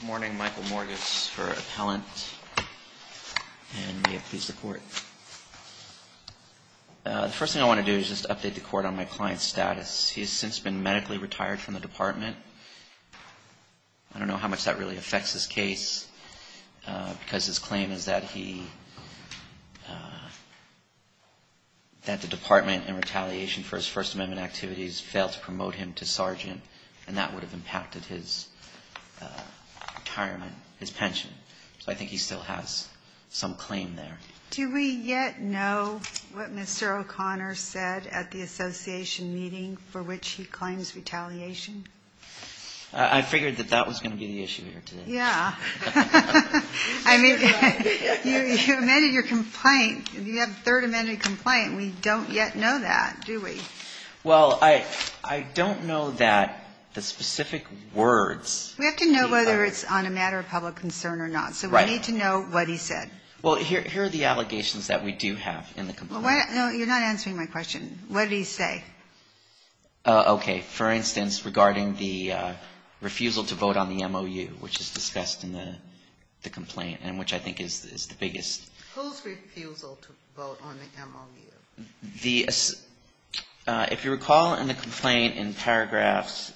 Good morning, Michael Morgus for Appellant, and may it please the Court. The first thing I want to do is just update the Court on my client's status. He has since been medically retired from the Department. I don't know how much that really affects his case because his claim is that he – that the Department, in retaliation for his First Amendment activities, failed to promote him to sergeant, and that would have impacted his retirement, his pension. So I think he still has some claim there. Do we yet know what Mr. O'Connor said at the Association meeting for which he claims retaliation? I figured that that was going to be the issue here today. Yeah. I mean, you amended your complaint. You have a Third Amendment complaint. We don't yet know that, do we? Well, I don't know that the specific words. We have to know whether it's on a matter of public concern or not. Right. So we need to know what he said. Well, here are the allegations that we do have in the complaint. No, you're not answering my question. What did he say? Okay. For instance, regarding the refusal to vote on the MOU, which is discussed in the complaint, and which I think is the biggest. Whose refusal to vote on the MOU? If you recall in the complaint in paragraphs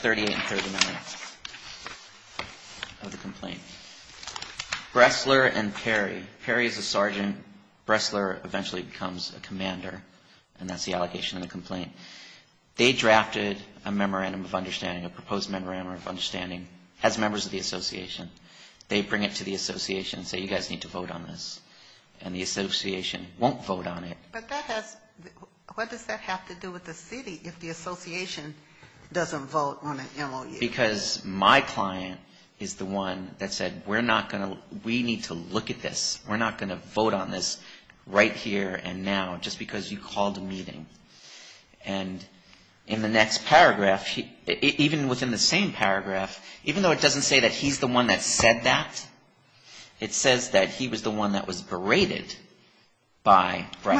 38 and 39 of the complaint, Bressler and Perry. Perry is a sergeant. Bressler eventually becomes a commander, and that's the allegation in the complaint. They drafted a memorandum of understanding, a proposed memorandum of understanding, as members of the Association. They bring it to the Association and say, you guys need to vote on this. And the Association won't vote on it. But that has to do with the city if the Association doesn't vote on an MOU. It's because my client is the one that said, we're not going to, we need to look at this. We're not going to vote on this right here and now just because you called a meeting. And in the next paragraph, even within the same paragraph, even though it doesn't say that he's the one that said that, it says that he was the one that was berated by Bressler.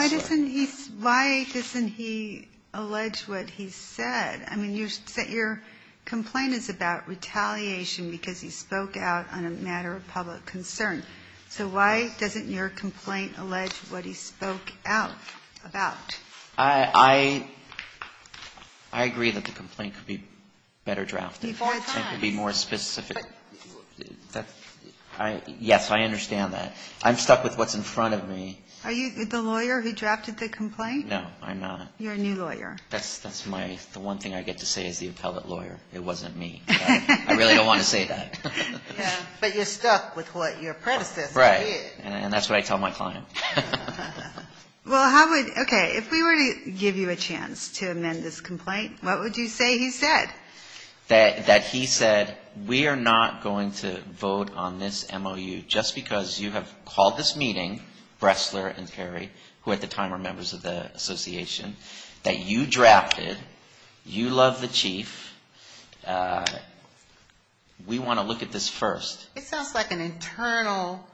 Why doesn't he allege what he said? I mean, your complaint is about retaliation because he spoke out on a matter of public concern. So why doesn't your complaint allege what he spoke out about? I agree that the complaint could be better drafted. It could be more specific. Yes, I understand that. I'm stuck with what's in front of me. Are you the lawyer who drafted the complaint? No, I'm not. You're a new lawyer. That's my, the one thing I get to say as the appellate lawyer. It wasn't me. I really don't want to say that. But you're stuck with what your predecessor did. Right, and that's what I tell my client. Well, how would, okay, if we were to give you a chance to amend this complaint, what would you say he said? That he said, we are not going to vote on this MOU just because you have called this meeting, Bressler and Terry, who at the time were members of the association, that you drafted, you love the chief, we want to look at this first. It sounds like an internal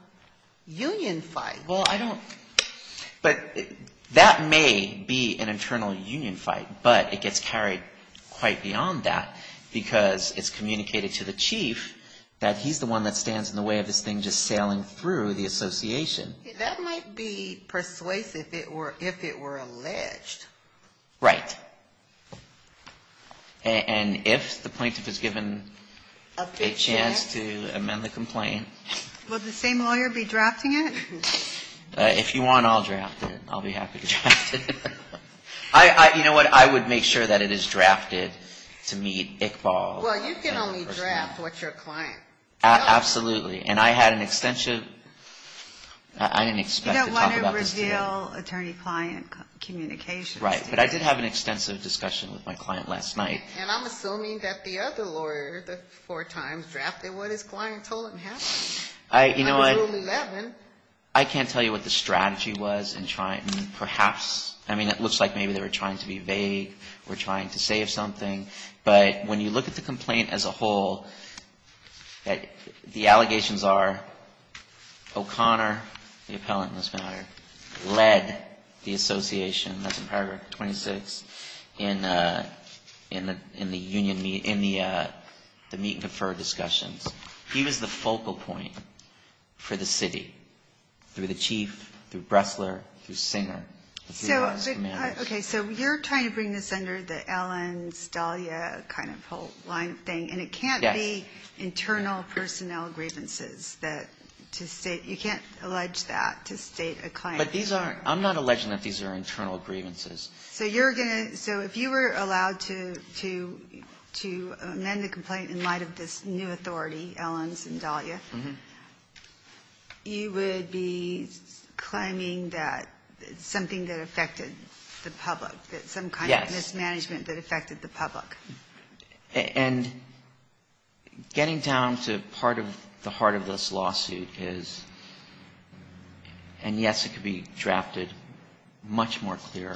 union fight. Well, I don't, but that may be an internal union fight. But it gets carried quite beyond that because it's communicated to the chief that he's the one that stands in the way of this thing just sailing through the association. That might be persuasive if it were alleged. Right. And if the plaintiff is given a chance to amend the complaint. Will the same lawyer be drafting it? If you want, I'll draft it. I'll be happy to draft it. You know what, I would make sure that it is drafted to meet Iqbal. Well, you can only draft what your client wants. Absolutely. And I had an extensive, I didn't expect to talk about this today. You don't want to reveal attorney-client communications today. Right, but I did have an extensive discussion with my client last night. And I'm assuming that the other lawyer that four times drafted what his client told him happened. You know what, I can't tell you what the strategy was in trying, perhaps, I mean, it looks like maybe they were trying to be vague or trying to save something. But when you look at the complaint as a whole, the allegations are O'Connor, the appellant in this matter, led the association, that's in paragraph 26, in the meet and confer discussions. He was the focal point for the city through the chief, through Bressler, through Singer. Okay, so you're trying to bring this under the Ellens, Dahlia kind of whole line of thing. And it can't be internal personnel grievances that to state, you can't allege that to state a client. But these are, I'm not alleging that these are internal grievances. So you're going to, so if you were allowed to amend the complaint in light of this new authority, Ellens and Dahlia, you would be claiming that something that affected the public, that some kind of mismanagement that affected the public. Yes. And getting down to part of the heart of this lawsuit is, and yes, it could be drafted much more clear,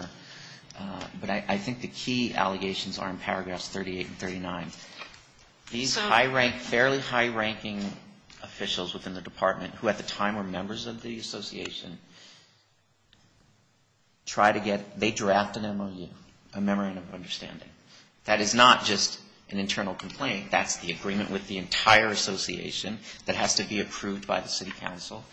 but I think the key allegations are in paragraphs 38 and 39. These fairly high-ranking officials within the department, who at the time were members of the association, try to get, they draft an MOU, a memorandum of understanding. That is not just an internal complaint. That's the agreement with the entire association that has to be approved by the city council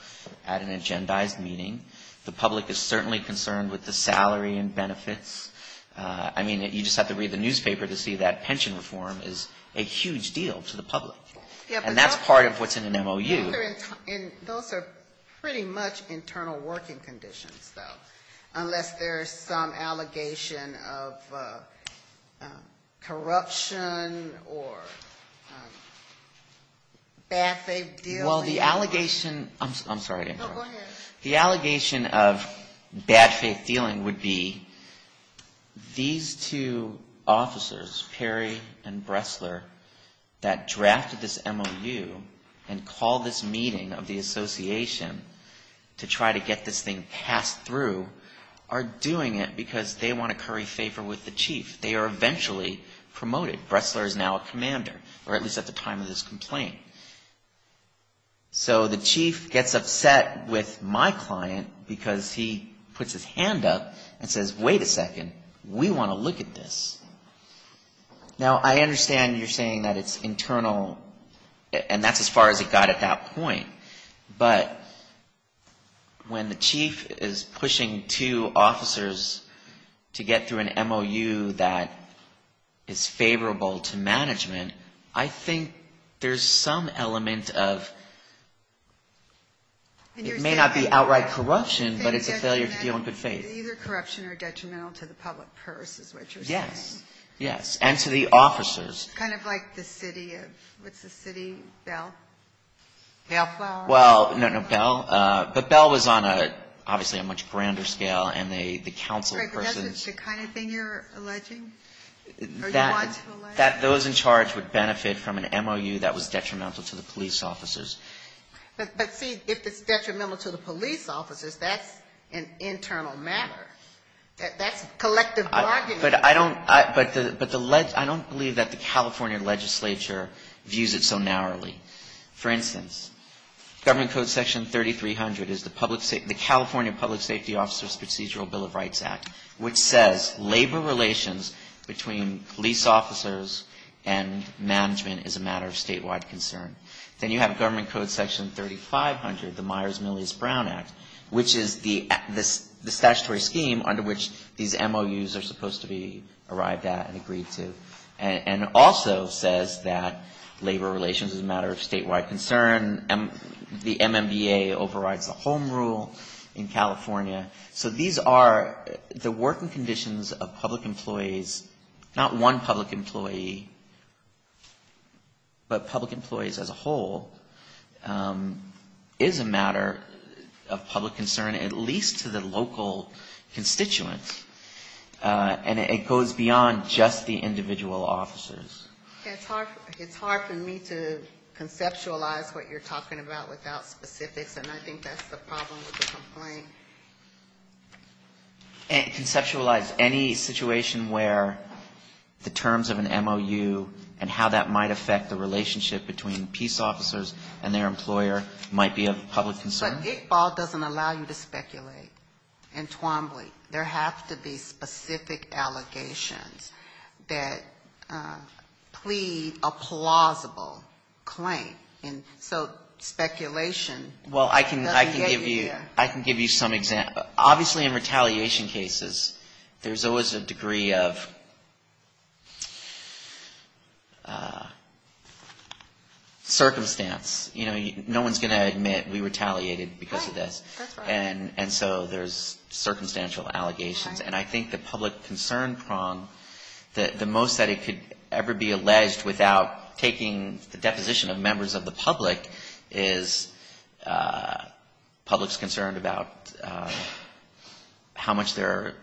at an agendized meeting. The public is certainly concerned with the salary and benefits. I mean, you just have to read the newspaper to see that pension reform is a huge deal to the public. And that's part of what's in an MOU. Those are pretty much internal working conditions, though, unless there's some allegation of corruption or bad faith dealing. Well, the allegation, I'm sorry to interrupt. No, go ahead. The allegation of bad faith dealing would be these two officers, Perry and Bressler, that drafted this MOU and called this meeting of the association to try to get this thing passed through, are doing it because they want to curry favor with the chief. They are eventually promoted. Bressler is now a commander, or at least at the time of this complaint. So the chief gets upset with my client because he puts his hand up and says, wait a second, we want to look at this. Now, I understand you're saying that it's internal, and that's as far as it got at that point. But when the chief is pushing two officers to get through an MOU that is favorable to management, I think there's some element of it may not be outright corruption, but it's a failure to deal in good faith. Either corruption or detrimental to the public purse is what you're saying. Yes. Yes. And to the officers. Kind of like the city of, what's the city, Bell? Well, no, no, Bell. But Bell was on, obviously, a much grander scale, and the council persons. Right, but that's the kind of thing you're alleging? That those in charge would benefit from an MOU that was detrimental to the police officers. But see, if it's detrimental to the police officers, that's an internal matter. That's collective bargaining. But I don't believe that the California legislature views it so narrowly. For instance, Government Code Section 3300 is the California Public Safety Officers Procedural Bill of Rights Act, which says labor relations between police officers and management is a matter of statewide concern. Then you have Government Code Section 3500, the Myers-Millis-Brown Act, which is the statutory scheme under which these MOUs are supposed to be arrived at and agreed to. And it also says that labor relations is a matter of statewide concern. The MMBA overrides the home rule in California. So these are the working conditions of public employees, not one public employee, but public employees as a whole, is a matter of public concern, at least to the local constituents. And it goes beyond just the individual officers. It's hard for me to conceptualize what you're talking about without specifics, and I think that's the problem with the complaint. And conceptualize any situation where the terms of an MOU and how that might affect the relationship between peace officers and their employer might be of public concern? But Iqbal doesn't allow you to speculate and twamble. There have to be specific allegations that plead a plausible claim. And so speculation doesn't get you there. Well, I can give you some examples. Obviously, in retaliation cases, there's always a degree of circumstance. You know, no one's going to admit we retaliated because of this. Right. That's right. And so there's circumstantial allegations. And I think the public concern prong, the most that it could ever be alleged without taking the deposition of members of the public, is public's concerned about how much the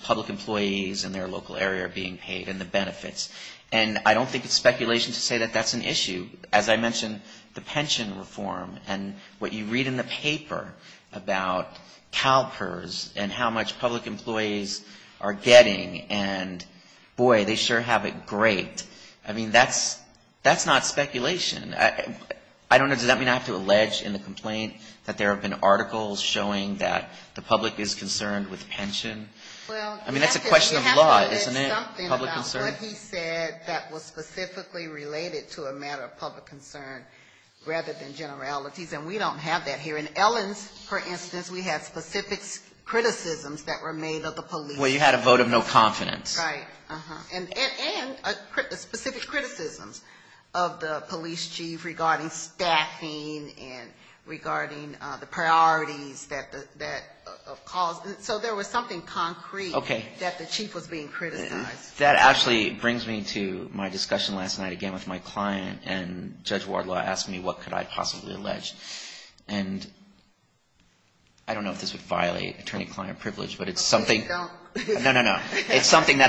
public employees in their local area are being paid and the benefits. And I don't think it's speculation to say that that's an issue. As I mentioned, the pension reform and what you read in the paper about CalPERS and how much public employees are getting, and boy, they sure have it great. I mean, that's not speculation. I don't know, does that mean I have to allege in the complaint that there have been articles showing that the public is concerned with pension? I mean, that's a question of law, isn't it, public concern? Well, you haven't read something about what he said that was specifically related to a matter of public concern rather than generalities, and we don't have that here. In Ellen's, for instance, we had specific criticisms that were made of the police. Well, you had a vote of no confidence. Right, uh-huh, and specific criticisms of the police chief regarding staffing and regarding the priorities that caused, so there was something concrete that the chief was being criticized. That actually brings me to my discussion last night again with my client and Judge Wardlaw asking me what could I possibly allege, and I don't know if this would violate attorney-client privilege, but it's something that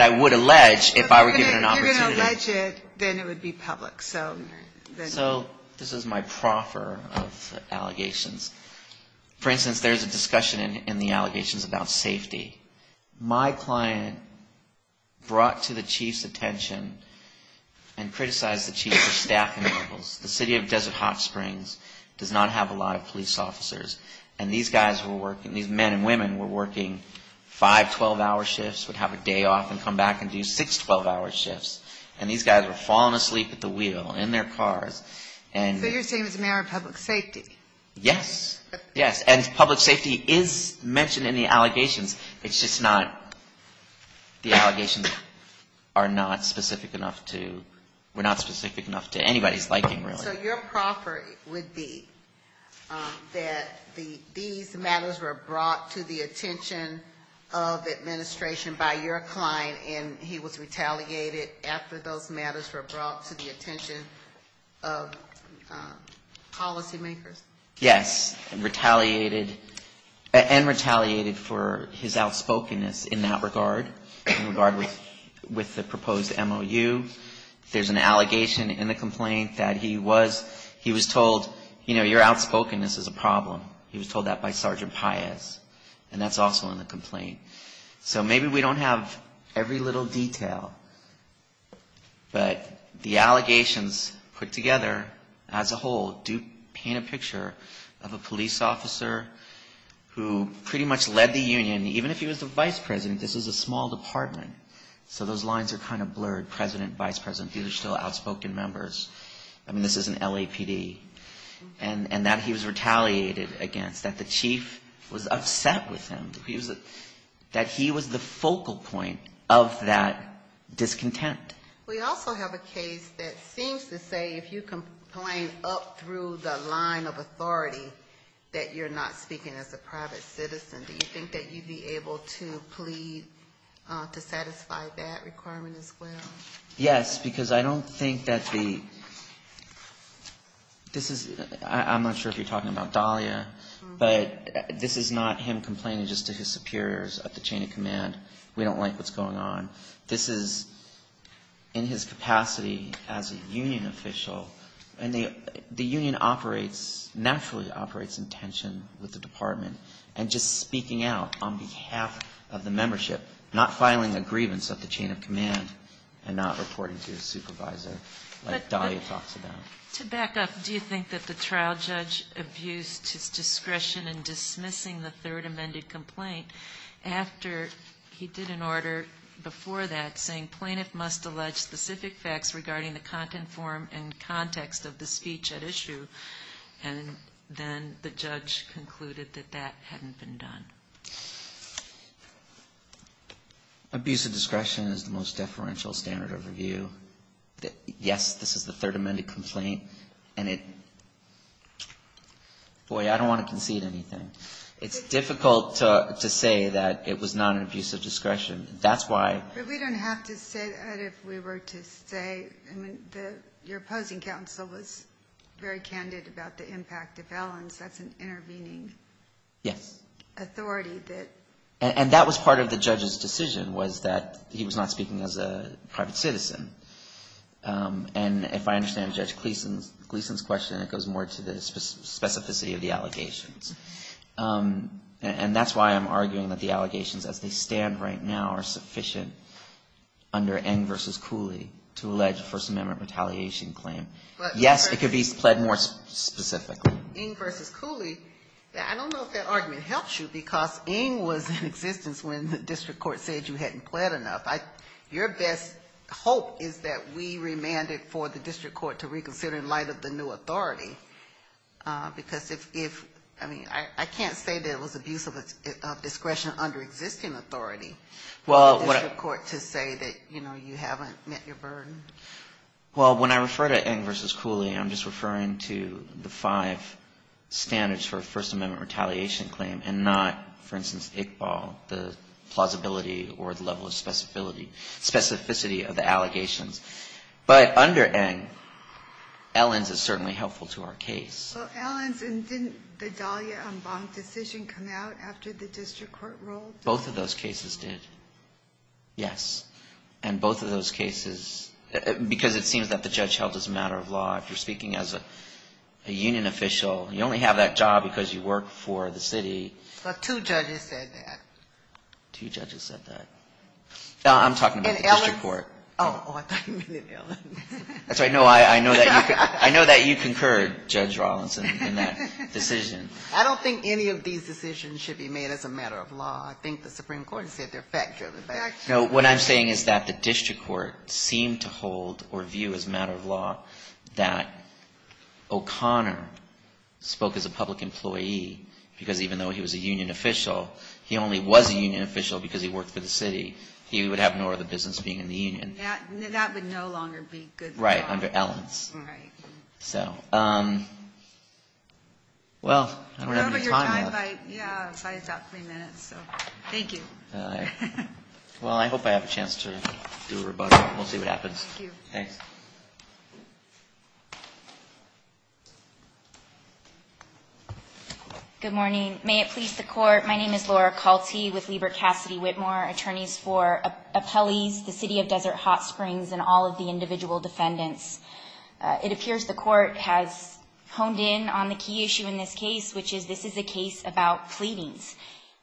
I would allege if I were given an opportunity. If you're going to allege it, then it would be public. So this is my proffer of allegations. For instance, there's a discussion in the allegations about safety. My client brought to the chief's attention and criticized the chief for staffing levels. The city of Desert Hot Springs does not have a lot of police officers, and these guys were working, these men and women were working five 12-hour shifts, would have a day off and come back and do six 12-hour shifts, and these guys were falling asleep at the wheel in their cars. So you're saying it's a matter of public safety? Yes, yes, and public safety is mentioned in the allegations. It's just not, the allegations are not specific enough to, were not specific enough to anybody's liking, really. So your proffer would be that these matters were brought to the attention of administration by your client, and he was retaliated after those matters were brought to the attention of policymakers? Yes, and retaliated for his outspokenness in that regard, in regard with the proposed MOU. There's an allegation in the complaint that he was, he was told, you know, your outspokenness is a problem. He was told that by Sergeant Paez, and that's also in the complaint. So maybe we don't have every little detail, but the allegations put together as a whole do paint a picture of a police officer who pretty much led the union. Even if he was the vice president, this is a small department, so those lines are kind of blurred. President, vice president, these are still outspoken members. I mean, this is an LAPD. And that he was retaliated against, that the chief was upset with him, that he was the focal point of that discontent. We also have a case that seems to say if you complain up through the line of authority, that you're not speaking as a private citizen. Do you think that you'd be able to plead to satisfy that requirement as well? Yes, because I don't think that the, this is, I'm not sure if you're talking about Dahlia, but this is not him complaining just to his superiors at the chain of command. We don't like what's going on. This is in his capacity as a union official, and the union operates, naturally operates in tension with the department. And just speaking out on behalf of the membership, not filing a grievance at the chain of command, and not reporting to your supervisor like Dahlia talks about. To back up, do you think that the trial judge abused his discretion in dismissing the third amended complaint after he did an order before that saying plaintiff must allege specific facts regarding the content form and context of the speech at issue, and then the judge concluded that that hadn't been done? Abuse of discretion is the most deferential standard of review. Yes, this is the third amended complaint, and it, boy, I don't want to concede anything. It's difficult to say that it was not an abuse of discretion. We don't have to say that if we were to say your opposing counsel was very candid about the impact of violence. That's an intervening authority. And that was part of the judge's decision was that he was not speaking as a private citizen. And if I understand Judge Gleeson's question, it goes more to the specificity of the allegations. And that's why I'm arguing that the allegations as they stand right now are sufficient under Ng v. Cooley to allege a First Amendment retaliation claim. Yes, it could be pled more specifically. Ng v. Cooley, I don't know if that argument helps you, because Ng was in existence when the district court said you hadn't pled enough. Your best hope is that we remand it for the district court to reconsider in light of the new authority, because if, I mean, I can't say that it was abuse of discretion under existing authority for the district court to say that, you know, you haven't met your burden. Well, when I refer to Ng v. Cooley, I'm just referring to the five standards for a First Amendment retaliation claim and not, for instance, Iqbal, the plausibility or the level of specificity of the allegations. But under Ng, Ellens is certainly helpful to our case. So Ellens, and didn't the Dahlia-Ambang decision come out after the district court ruled? Both of those cases did, yes. And both of those cases, because it seems that the judge held as a matter of law, if you're speaking as a union official, you only have that job because you work for the city. But two judges said that. Two judges said that. No, I'm talking about the district court. I'm sorry, no, I know that you concurred, Judge Rawlinson, in that decision. I don't think any of these decisions should be made as a matter of law. I think the Supreme Court said they're fact-driven. No, what I'm saying is that the district court seemed to hold or view as a matter of law that O'Connor spoke as a public employee, because even though he was a union official because he worked for the city, he would have no other business being in the union. That would no longer be good law. Right, under Ellens. Well, I don't have any time left. Well, I hope I have a chance to do a rebuttal. We'll see what happens. Thank you. Good morning. May it please the court, my name is Laura Colty with Lieber Cassidy Whitmore, attorneys for appellees, the city of Desert Hot Springs, and all of the individual defendants. It appears the court has honed in on the key issue in this case, which is this is a case about pleadings.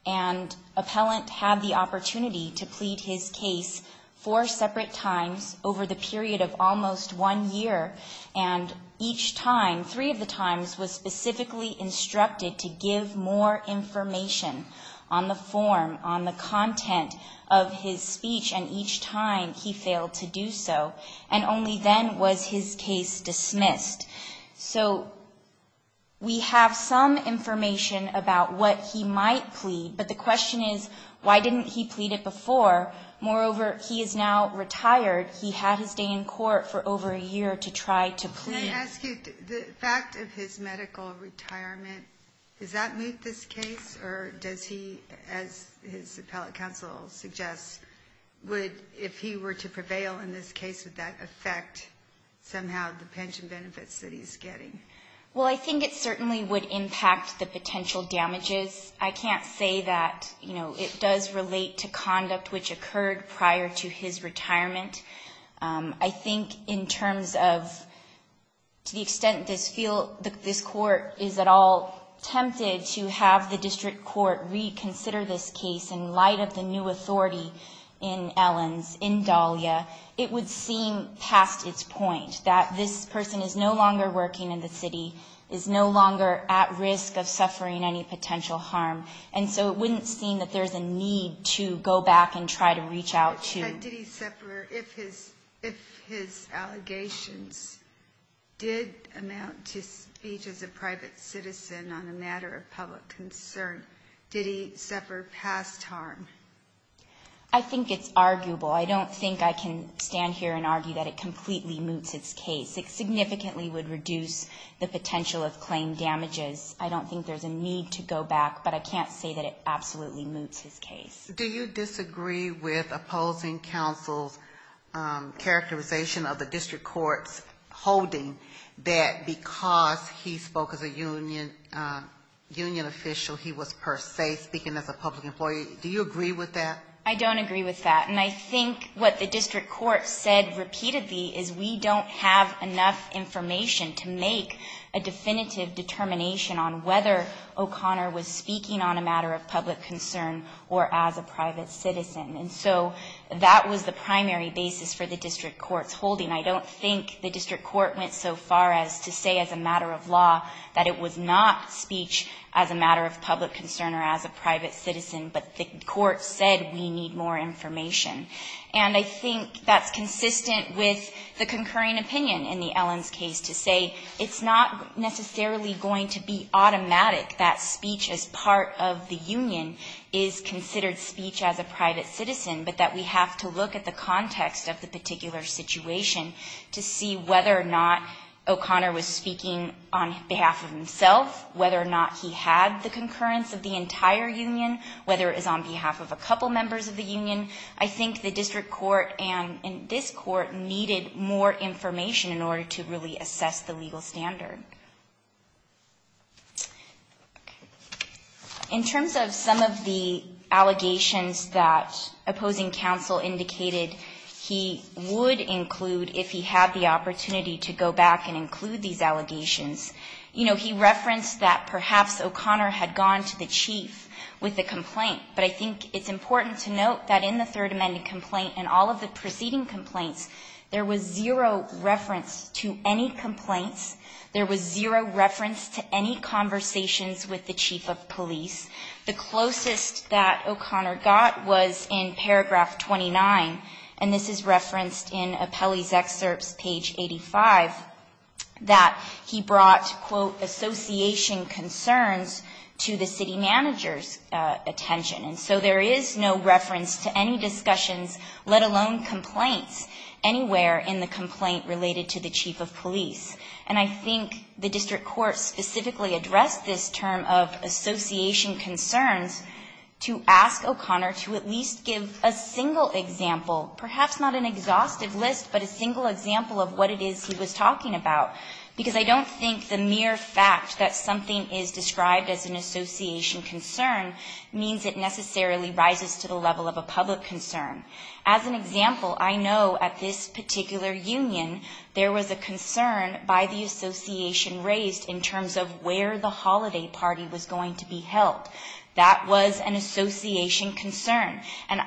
And appellant had the opportunity to plead his case four separate times over the period of three years. And each time, three of the times was specifically instructed to give more information on the form, on the content of his speech. And each time he failed to do so. And only then was his case dismissed. So we have some information about what he might plead, but the question is, why didn't he plead it before? Moreover, he is now retired. He had his day in court for over a year to try to plead. Can I ask you, the fact of his medical retirement, does that move this case? Or does he, as his appellate counsel suggests, would, if he were to prevail in this case, would that affect somehow the pension benefits that he's getting? Well, I think it certainly would impact the potential damages. I can't say that, you know, it does relate to conduct which occurred prior to his retirement. I think in terms of, to the extent this court is at all tempted to have the district court reconsider this case in light of the new authority in Ellens, in Dahlia, it would seem past its point that this person is no longer working in the city, is no longer at risk of suffering any potential harm. And so it wouldn't seem that there's a need to go back and try to reach out to him. But did he suffer, if his allegations did amount to speech as a private citizen on a matter of public concern, did he suffer past harm? I think it's arguable. I don't think I can stand here and argue that it completely moots its case. It significantly would reduce the potential of claim damages. I don't think there's a need to go back, but I can't say that it absolutely moots his case. Do you disagree with opposing counsel's characterization of the district court's holding that because he spoke as a union official, he was per se speaking as a public employee? Do you agree with that? I don't agree with that. And I think what the district court said repeatedly is we don't have enough information to make a definitive determination on whether O'Connor was speaking on a matter of public concern or as a private citizen. And so that was the primary basis for the district court's holding. I don't think the district court went so far as to say as a matter of law that it was not speech as a matter of public concern or as a private citizen, but the court said we need more information. And I think that's consistent with the concurring opinion in the Ellens case to say it's not necessarily going to be automatic that speech as part of the union is considered speech as a private citizen, but that we have to look at the context of the particular situation to see whether or not O'Connor was speaking on behalf of himself, whether or not he had the concurrence of the entire union, whether it was on behalf of a couple members of the union. I think the district court and this court needed more information in order to really assess the legal standard. In terms of some of the allegations that opposing counsel indicated he would include if he had the opportunity to go back and include these allegations, you know, he referenced that perhaps O'Connor had gone to the chief with a complaint, but I think it's important to note that in the Third Amendment complaint and all of the preceding complaints, there was zero reference to any complaints. There was zero reference to any conversations with the chief of police. The closest that O'Connor got was in paragraph 29, and this is referenced in Apelli's excerpts, page 85, that he brought, quote, association concerns to the city manager's attention. And so there is no reference to any discussions, let alone complaints, anywhere in the complaint related to the chief of police. And I think the district court specifically addressed this term of association concerns to ask O'Connor to at least give a single example, perhaps not an exhaustive list, but a single example of what it is he was talking about, because I don't think the mere fact that something is described as an association concern means it necessarily rises to the level of a public concern. And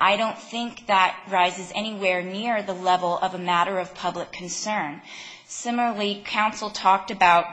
I don't think that rises anywhere near the level of a matter of public concern. Similarly, counsel talked about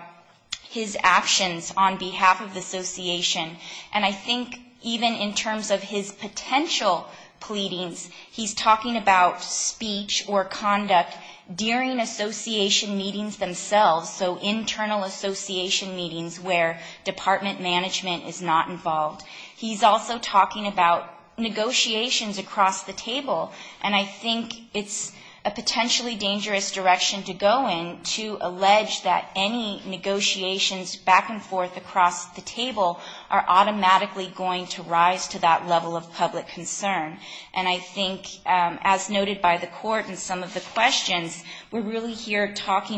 his actions on behalf of the association, and I think even in terms of his potential pleadings, he's talking about speech or conduct during association meetings themselves. Internal association meetings where department management is not involved. He's also talking about negotiations across the table, and I think it's a potentially dangerous direction to go in to allege that any negotiations back and forth across the table are automatically going to rise to that level of public concern. And I think that's the problem,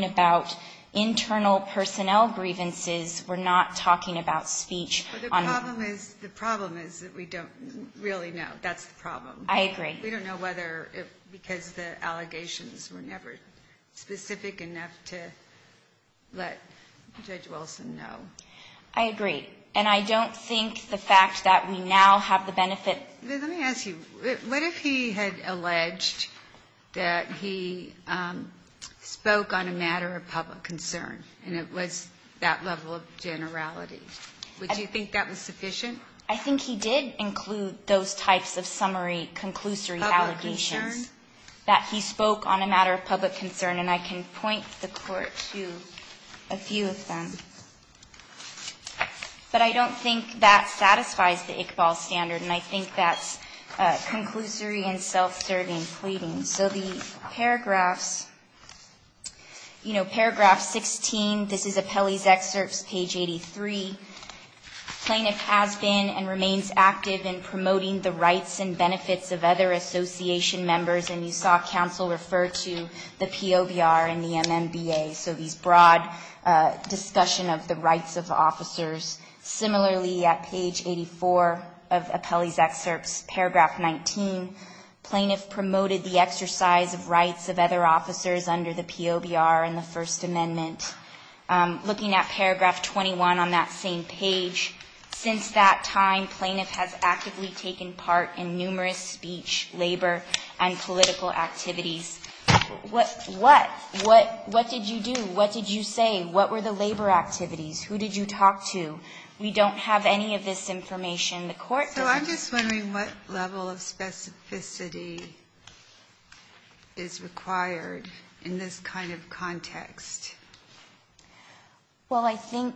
because the internal personnel grievances were not talking about speech. But the problem is that we don't really know. That's the problem. I agree. We don't know whether because the allegations were never specific enough to let Judge Wilson know. I agree, and I don't think the fact that we now have the benefit. Let me ask you, what if he had alleged that he spoke on a matter of public concern and it was that level of generality? Would you think that was sufficient? I think he did include those types of summary, conclusory allegations. Public concern? And I can point the Court to a few of them. But I don't think that satisfies the Iqbal standard, and I think that's conclusory and self-serving pleading. So the paragraphs, you know, paragraph 16, this is Apelli's excerpts, page 83. Plaintiff has been and remains active in promoting the rights and benefits of other association members, and you saw counsel refer to the POBR and the MMBA. So these broad discussion of the rights of officers. Similarly, at page 84 of Apelli's excerpts, paragraph 19, plaintiff promoted the exercise of rights of other officers under the POBR and the First Amendment. Looking at paragraph 21 on that same page, since that time, plaintiff has actively taken part in numerous speech, labor, and political activities. What did you do? What did you say? What were the labor activities? Who did you talk to? We don't have any of this information. The Court doesn't. So I'm just wondering what level of specificity is required in this kind of context. Well, I think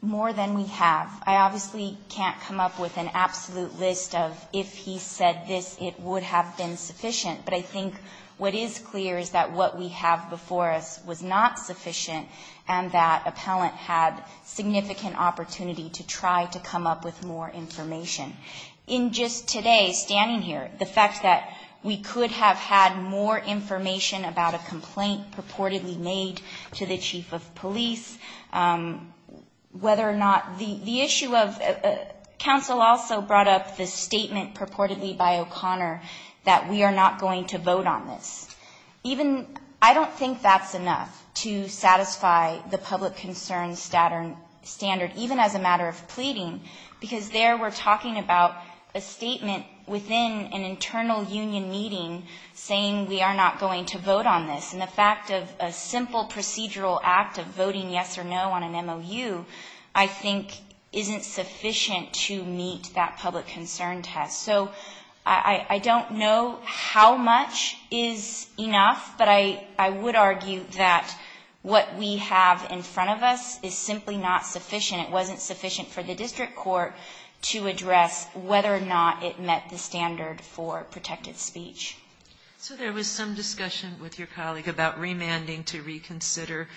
more than we have. I obviously can't come up with an absolute list of if he said this, it would have been sufficient. But I think what is clear is that what we have before us was not sufficient and that appellant had significant opportunity to try to come up with more information. In just today, standing here, the fact that we could have had more information about a complaint purportedly made to the chief of police, whether or not the issue of counsel also brought up the statement purportedly by O'Connor that we are not going to vote on this. I don't think that's enough to satisfy the public concern standard, even as a matter of pleading, because there we're talking about a statement within an internal union meeting saying we are not going to vote on this. And the fact of a simple procedural act of voting yes or no on an MOU I think isn't sufficient to meet that public concern test. So I don't know how much is enough, but I would argue that what we have in front of us is simply not sufficient. It wasn't sufficient for the district court to address whether or not it met the standard for protected speech. So there was some discussion with your colleague about remanding to reconsider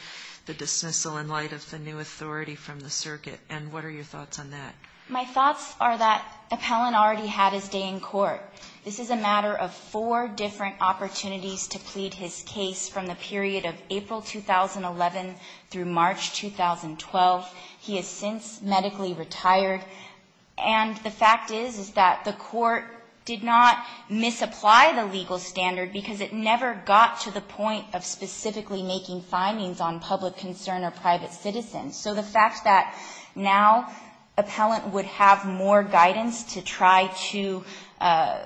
the dismissal in light of the new authority from the circuit. And what are your thoughts on that? My thoughts are that appellant already had his day in court. This is a matter of four different opportunities to plead his case from the period of April 2011 through March 2012. He has since medically retired. And the fact is that the court did not misapply the legal standard because it never got to the point of specifically making findings on public concern or private citizens. So the fact that now appellant would have more guidance to try to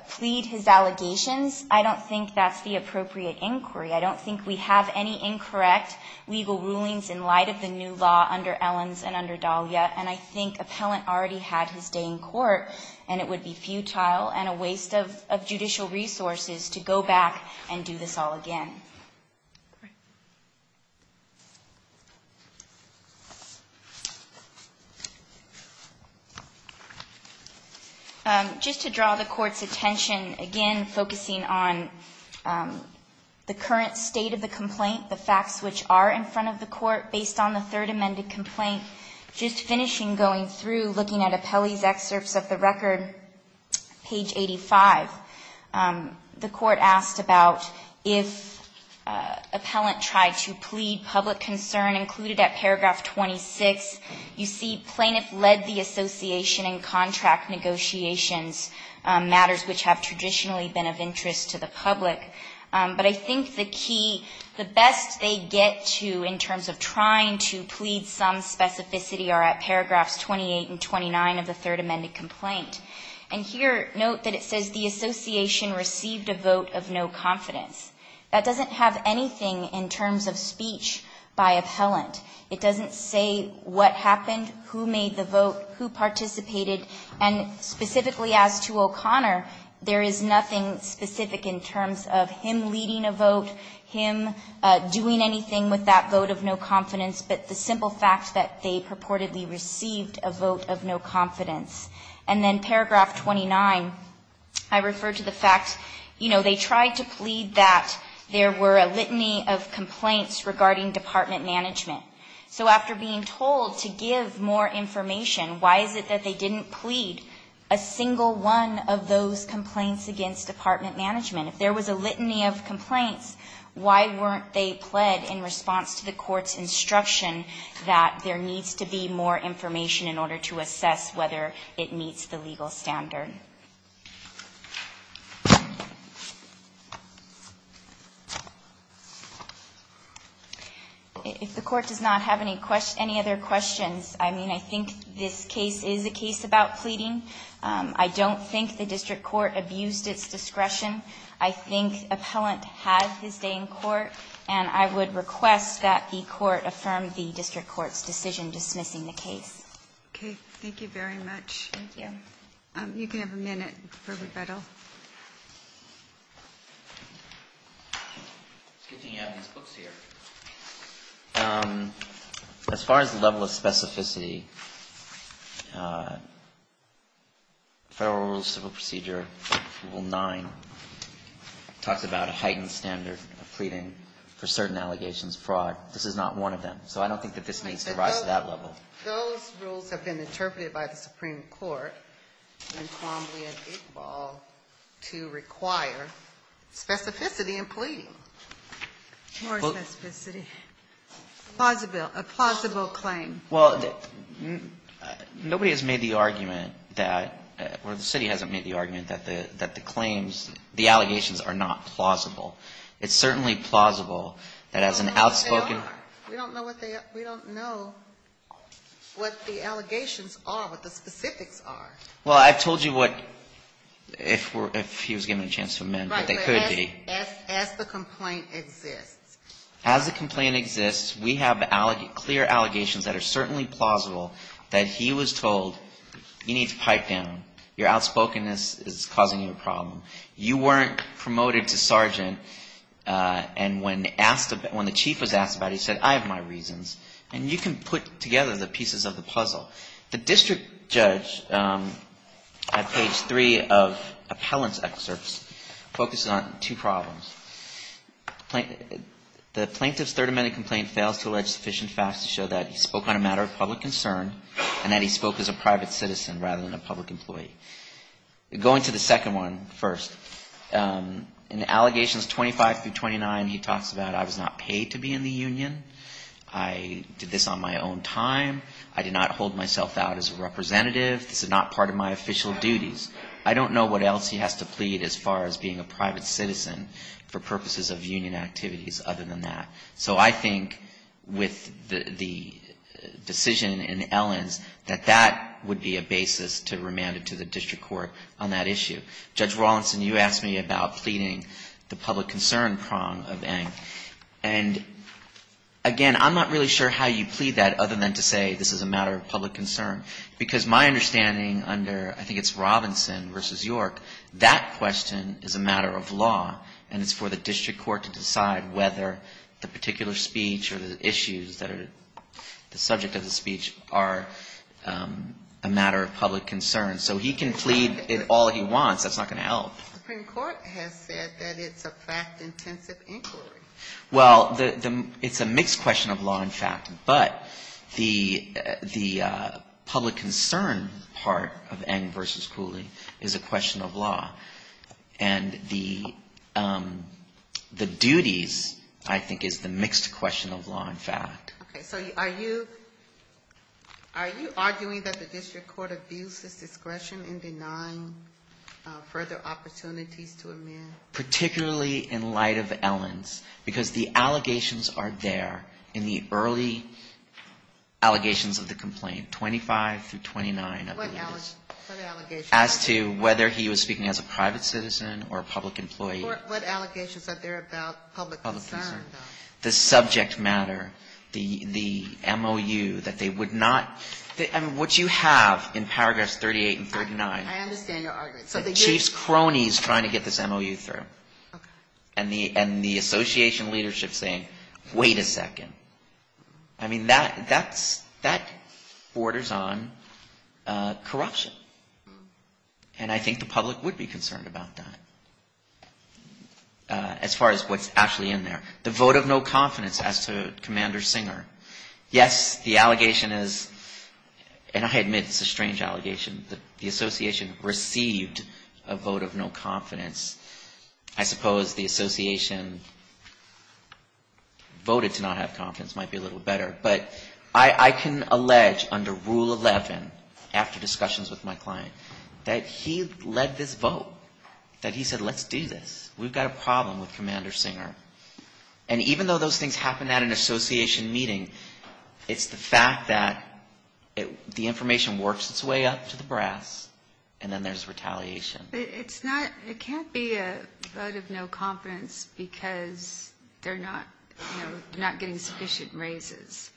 plead his allegations, I don't think that's the appropriate inquiry. I don't think we have any incorrect legal rulings in light of the new law under Ellens and under Dahlia. And I think appellant already had his day in court, and it would be futile and a waste of judicial resources to go back and do this all again. Just to draw the court's attention, again, focusing on the current state of the complaint, the facts which are in front of the court based on the third amended complaint. Just finishing going through, looking at Appelli's excerpts of the record, page 85, the court asked about if appellant tried to plead public concern included at paragraph 26. You see plaintiff led the association in contract negotiations, matters which have traditionally been of interest to the public. But I think the key, the best they get to in terms of trying to plead some specificity are at paragraphs 28 and 29 of the third amended complaint. And here note that it says the association received a vote of no confidence. That doesn't have anything in terms of speech by appellant. It doesn't say what happened, who made the vote, who participated. And specifically as to O'Connor, there is nothing specific in terms of him leading a vote, him doing anything with that vote of no confidence, but the simple fact that they purportedly received a vote of no confidence. And then paragraph 29, I refer to the fact, you know, they tried to plead that there were a litany of complaints regarding department management. So after being told to give more information, why is it that they didn't plead a single one of those complaints against department management? If there was a litany of complaints, why weren't they pled in response to the court's instruction that there needs to be more information in order to assess whether it meets the legal standard? If the court does not have any other questions, I mean, I think this case is a case about pleading. I don't think the district court abused its discretion. I think appellant had his day in court. And I would request that the court affirm the district court's decision dismissing the case. Thank you very much. You can have a minute for rebuttal. It's a good thing you have these books here. As far as the level of specificity, Federal Rules of Procedure Rule 9 talks about a heightened standard of pleading for certain allegations of fraud. This is not one of them. So I don't think that this needs to rise to that level. Those rules have been interpreted by the Supreme Court in Columbia and Iqbal to require specificity in pleading. More specificity. A plausible claim. Well, nobody has made the argument that, or the city hasn't made the argument that the claims, the allegations are not plausible. It's certainly plausible that as an outspoken... We don't know what the allegations are, what the specifics are. Well, I've told you what, if he was given a chance to amend, what they could be. As the complaint exists. As the complaint exists, we have clear allegations that are certainly plausible that he was told, you need to pipe down. Your outspokenness is causing you a problem. You weren't promoted to sergeant, and when asked, when the chief was asked about it, he said, I have my reasons. And you can put together the pieces of the puzzle. The district judge at page 3 of appellant's excerpts focuses on two problems. The plaintiff's third amendment complaint fails to allege sufficient facts to show that he spoke on a matter of public concern and that he spoke as a private citizen rather than a public employee. Going to the second one first, in allegations 25 through 29, he talks about I was not paid to be in the union. I did this on my own time. I did not hold myself out as a representative. This is not part of my official duties. I don't know what else he has to plead as far as being a private citizen for purposes of union activities other than that. So I think with the decision in Ellens, that that would be a basis to remand it to the district court on that issue. Judge Rawlinson, you asked me about pleading the public concern prong of Eng. And, again, I'm not really sure how you plead that other than to say this is a matter of public concern. Because my understanding under, I think it's Robinson versus York, that question is a matter of law. And it's for the district court to decide whether the particular speech or the issues that are the subject of the speech are a matter of public concern. So he can plead it all he wants. That's not going to help. The Supreme Court has said that it's a fact-intensive inquiry. Well, it's a mixed question of law and fact. But the public concern part of Eng versus Cooley is a question of law. And the duties, I think, is the mixed question of law and fact. Okay. So are you arguing that the district court abuses discretion in denying further opportunities to a man? Particularly in light of Ellens. Because the allegations are there in the early allegations of the complaint, 25 through 29, I believe. As to whether he was speaking as a private citizen or a public employee. What allegations are there about public concern, though? The subject matter, the MOU, that they would not ‑‑ I mean, what you have in paragraphs 38 and 39. I understand your argument. So the chief's crony is trying to get this MOU through. And the association leadership is saying, wait a second. I mean, that borders on corruption. And I think the public would be concerned about that. As far as what's actually in there. The vote of no confidence as to Commander Singer. Yes, the allegation is ‑‑ and I admit it's a strange allegation. The association received a vote of no confidence. I suppose the association voted to not have confidence. Might be a little better. But I can allege under Rule 11, after discussions with my client, that he led this vote. That he said, let's do this. We've got a problem with Commander Singer. And even though those things happen at an association meeting, it's the fact that the information works its way up to the brass, and then there's retaliation. It's not ‑‑ it can't be a vote of no confidence because they're not getting sufficient raises.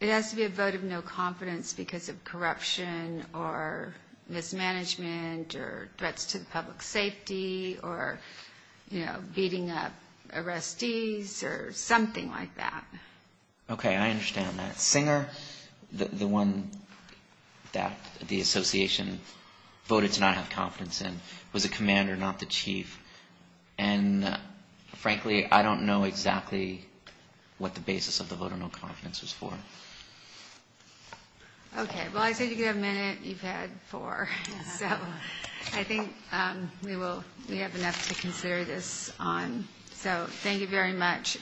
It has to be a vote of no confidence because of corruption or mismanagement or threats to the public safety or, you know, beating up arrestees or something like that. Okay. I understand that. But Commander Singer, the one that the association voted to not have confidence in, was a commander, not the chief. And frankly, I don't know exactly what the basis of the vote of no confidence was for. Okay. Well, I think you have a minute. You've had four. So I think we have enough to consider this on. So thank you very much.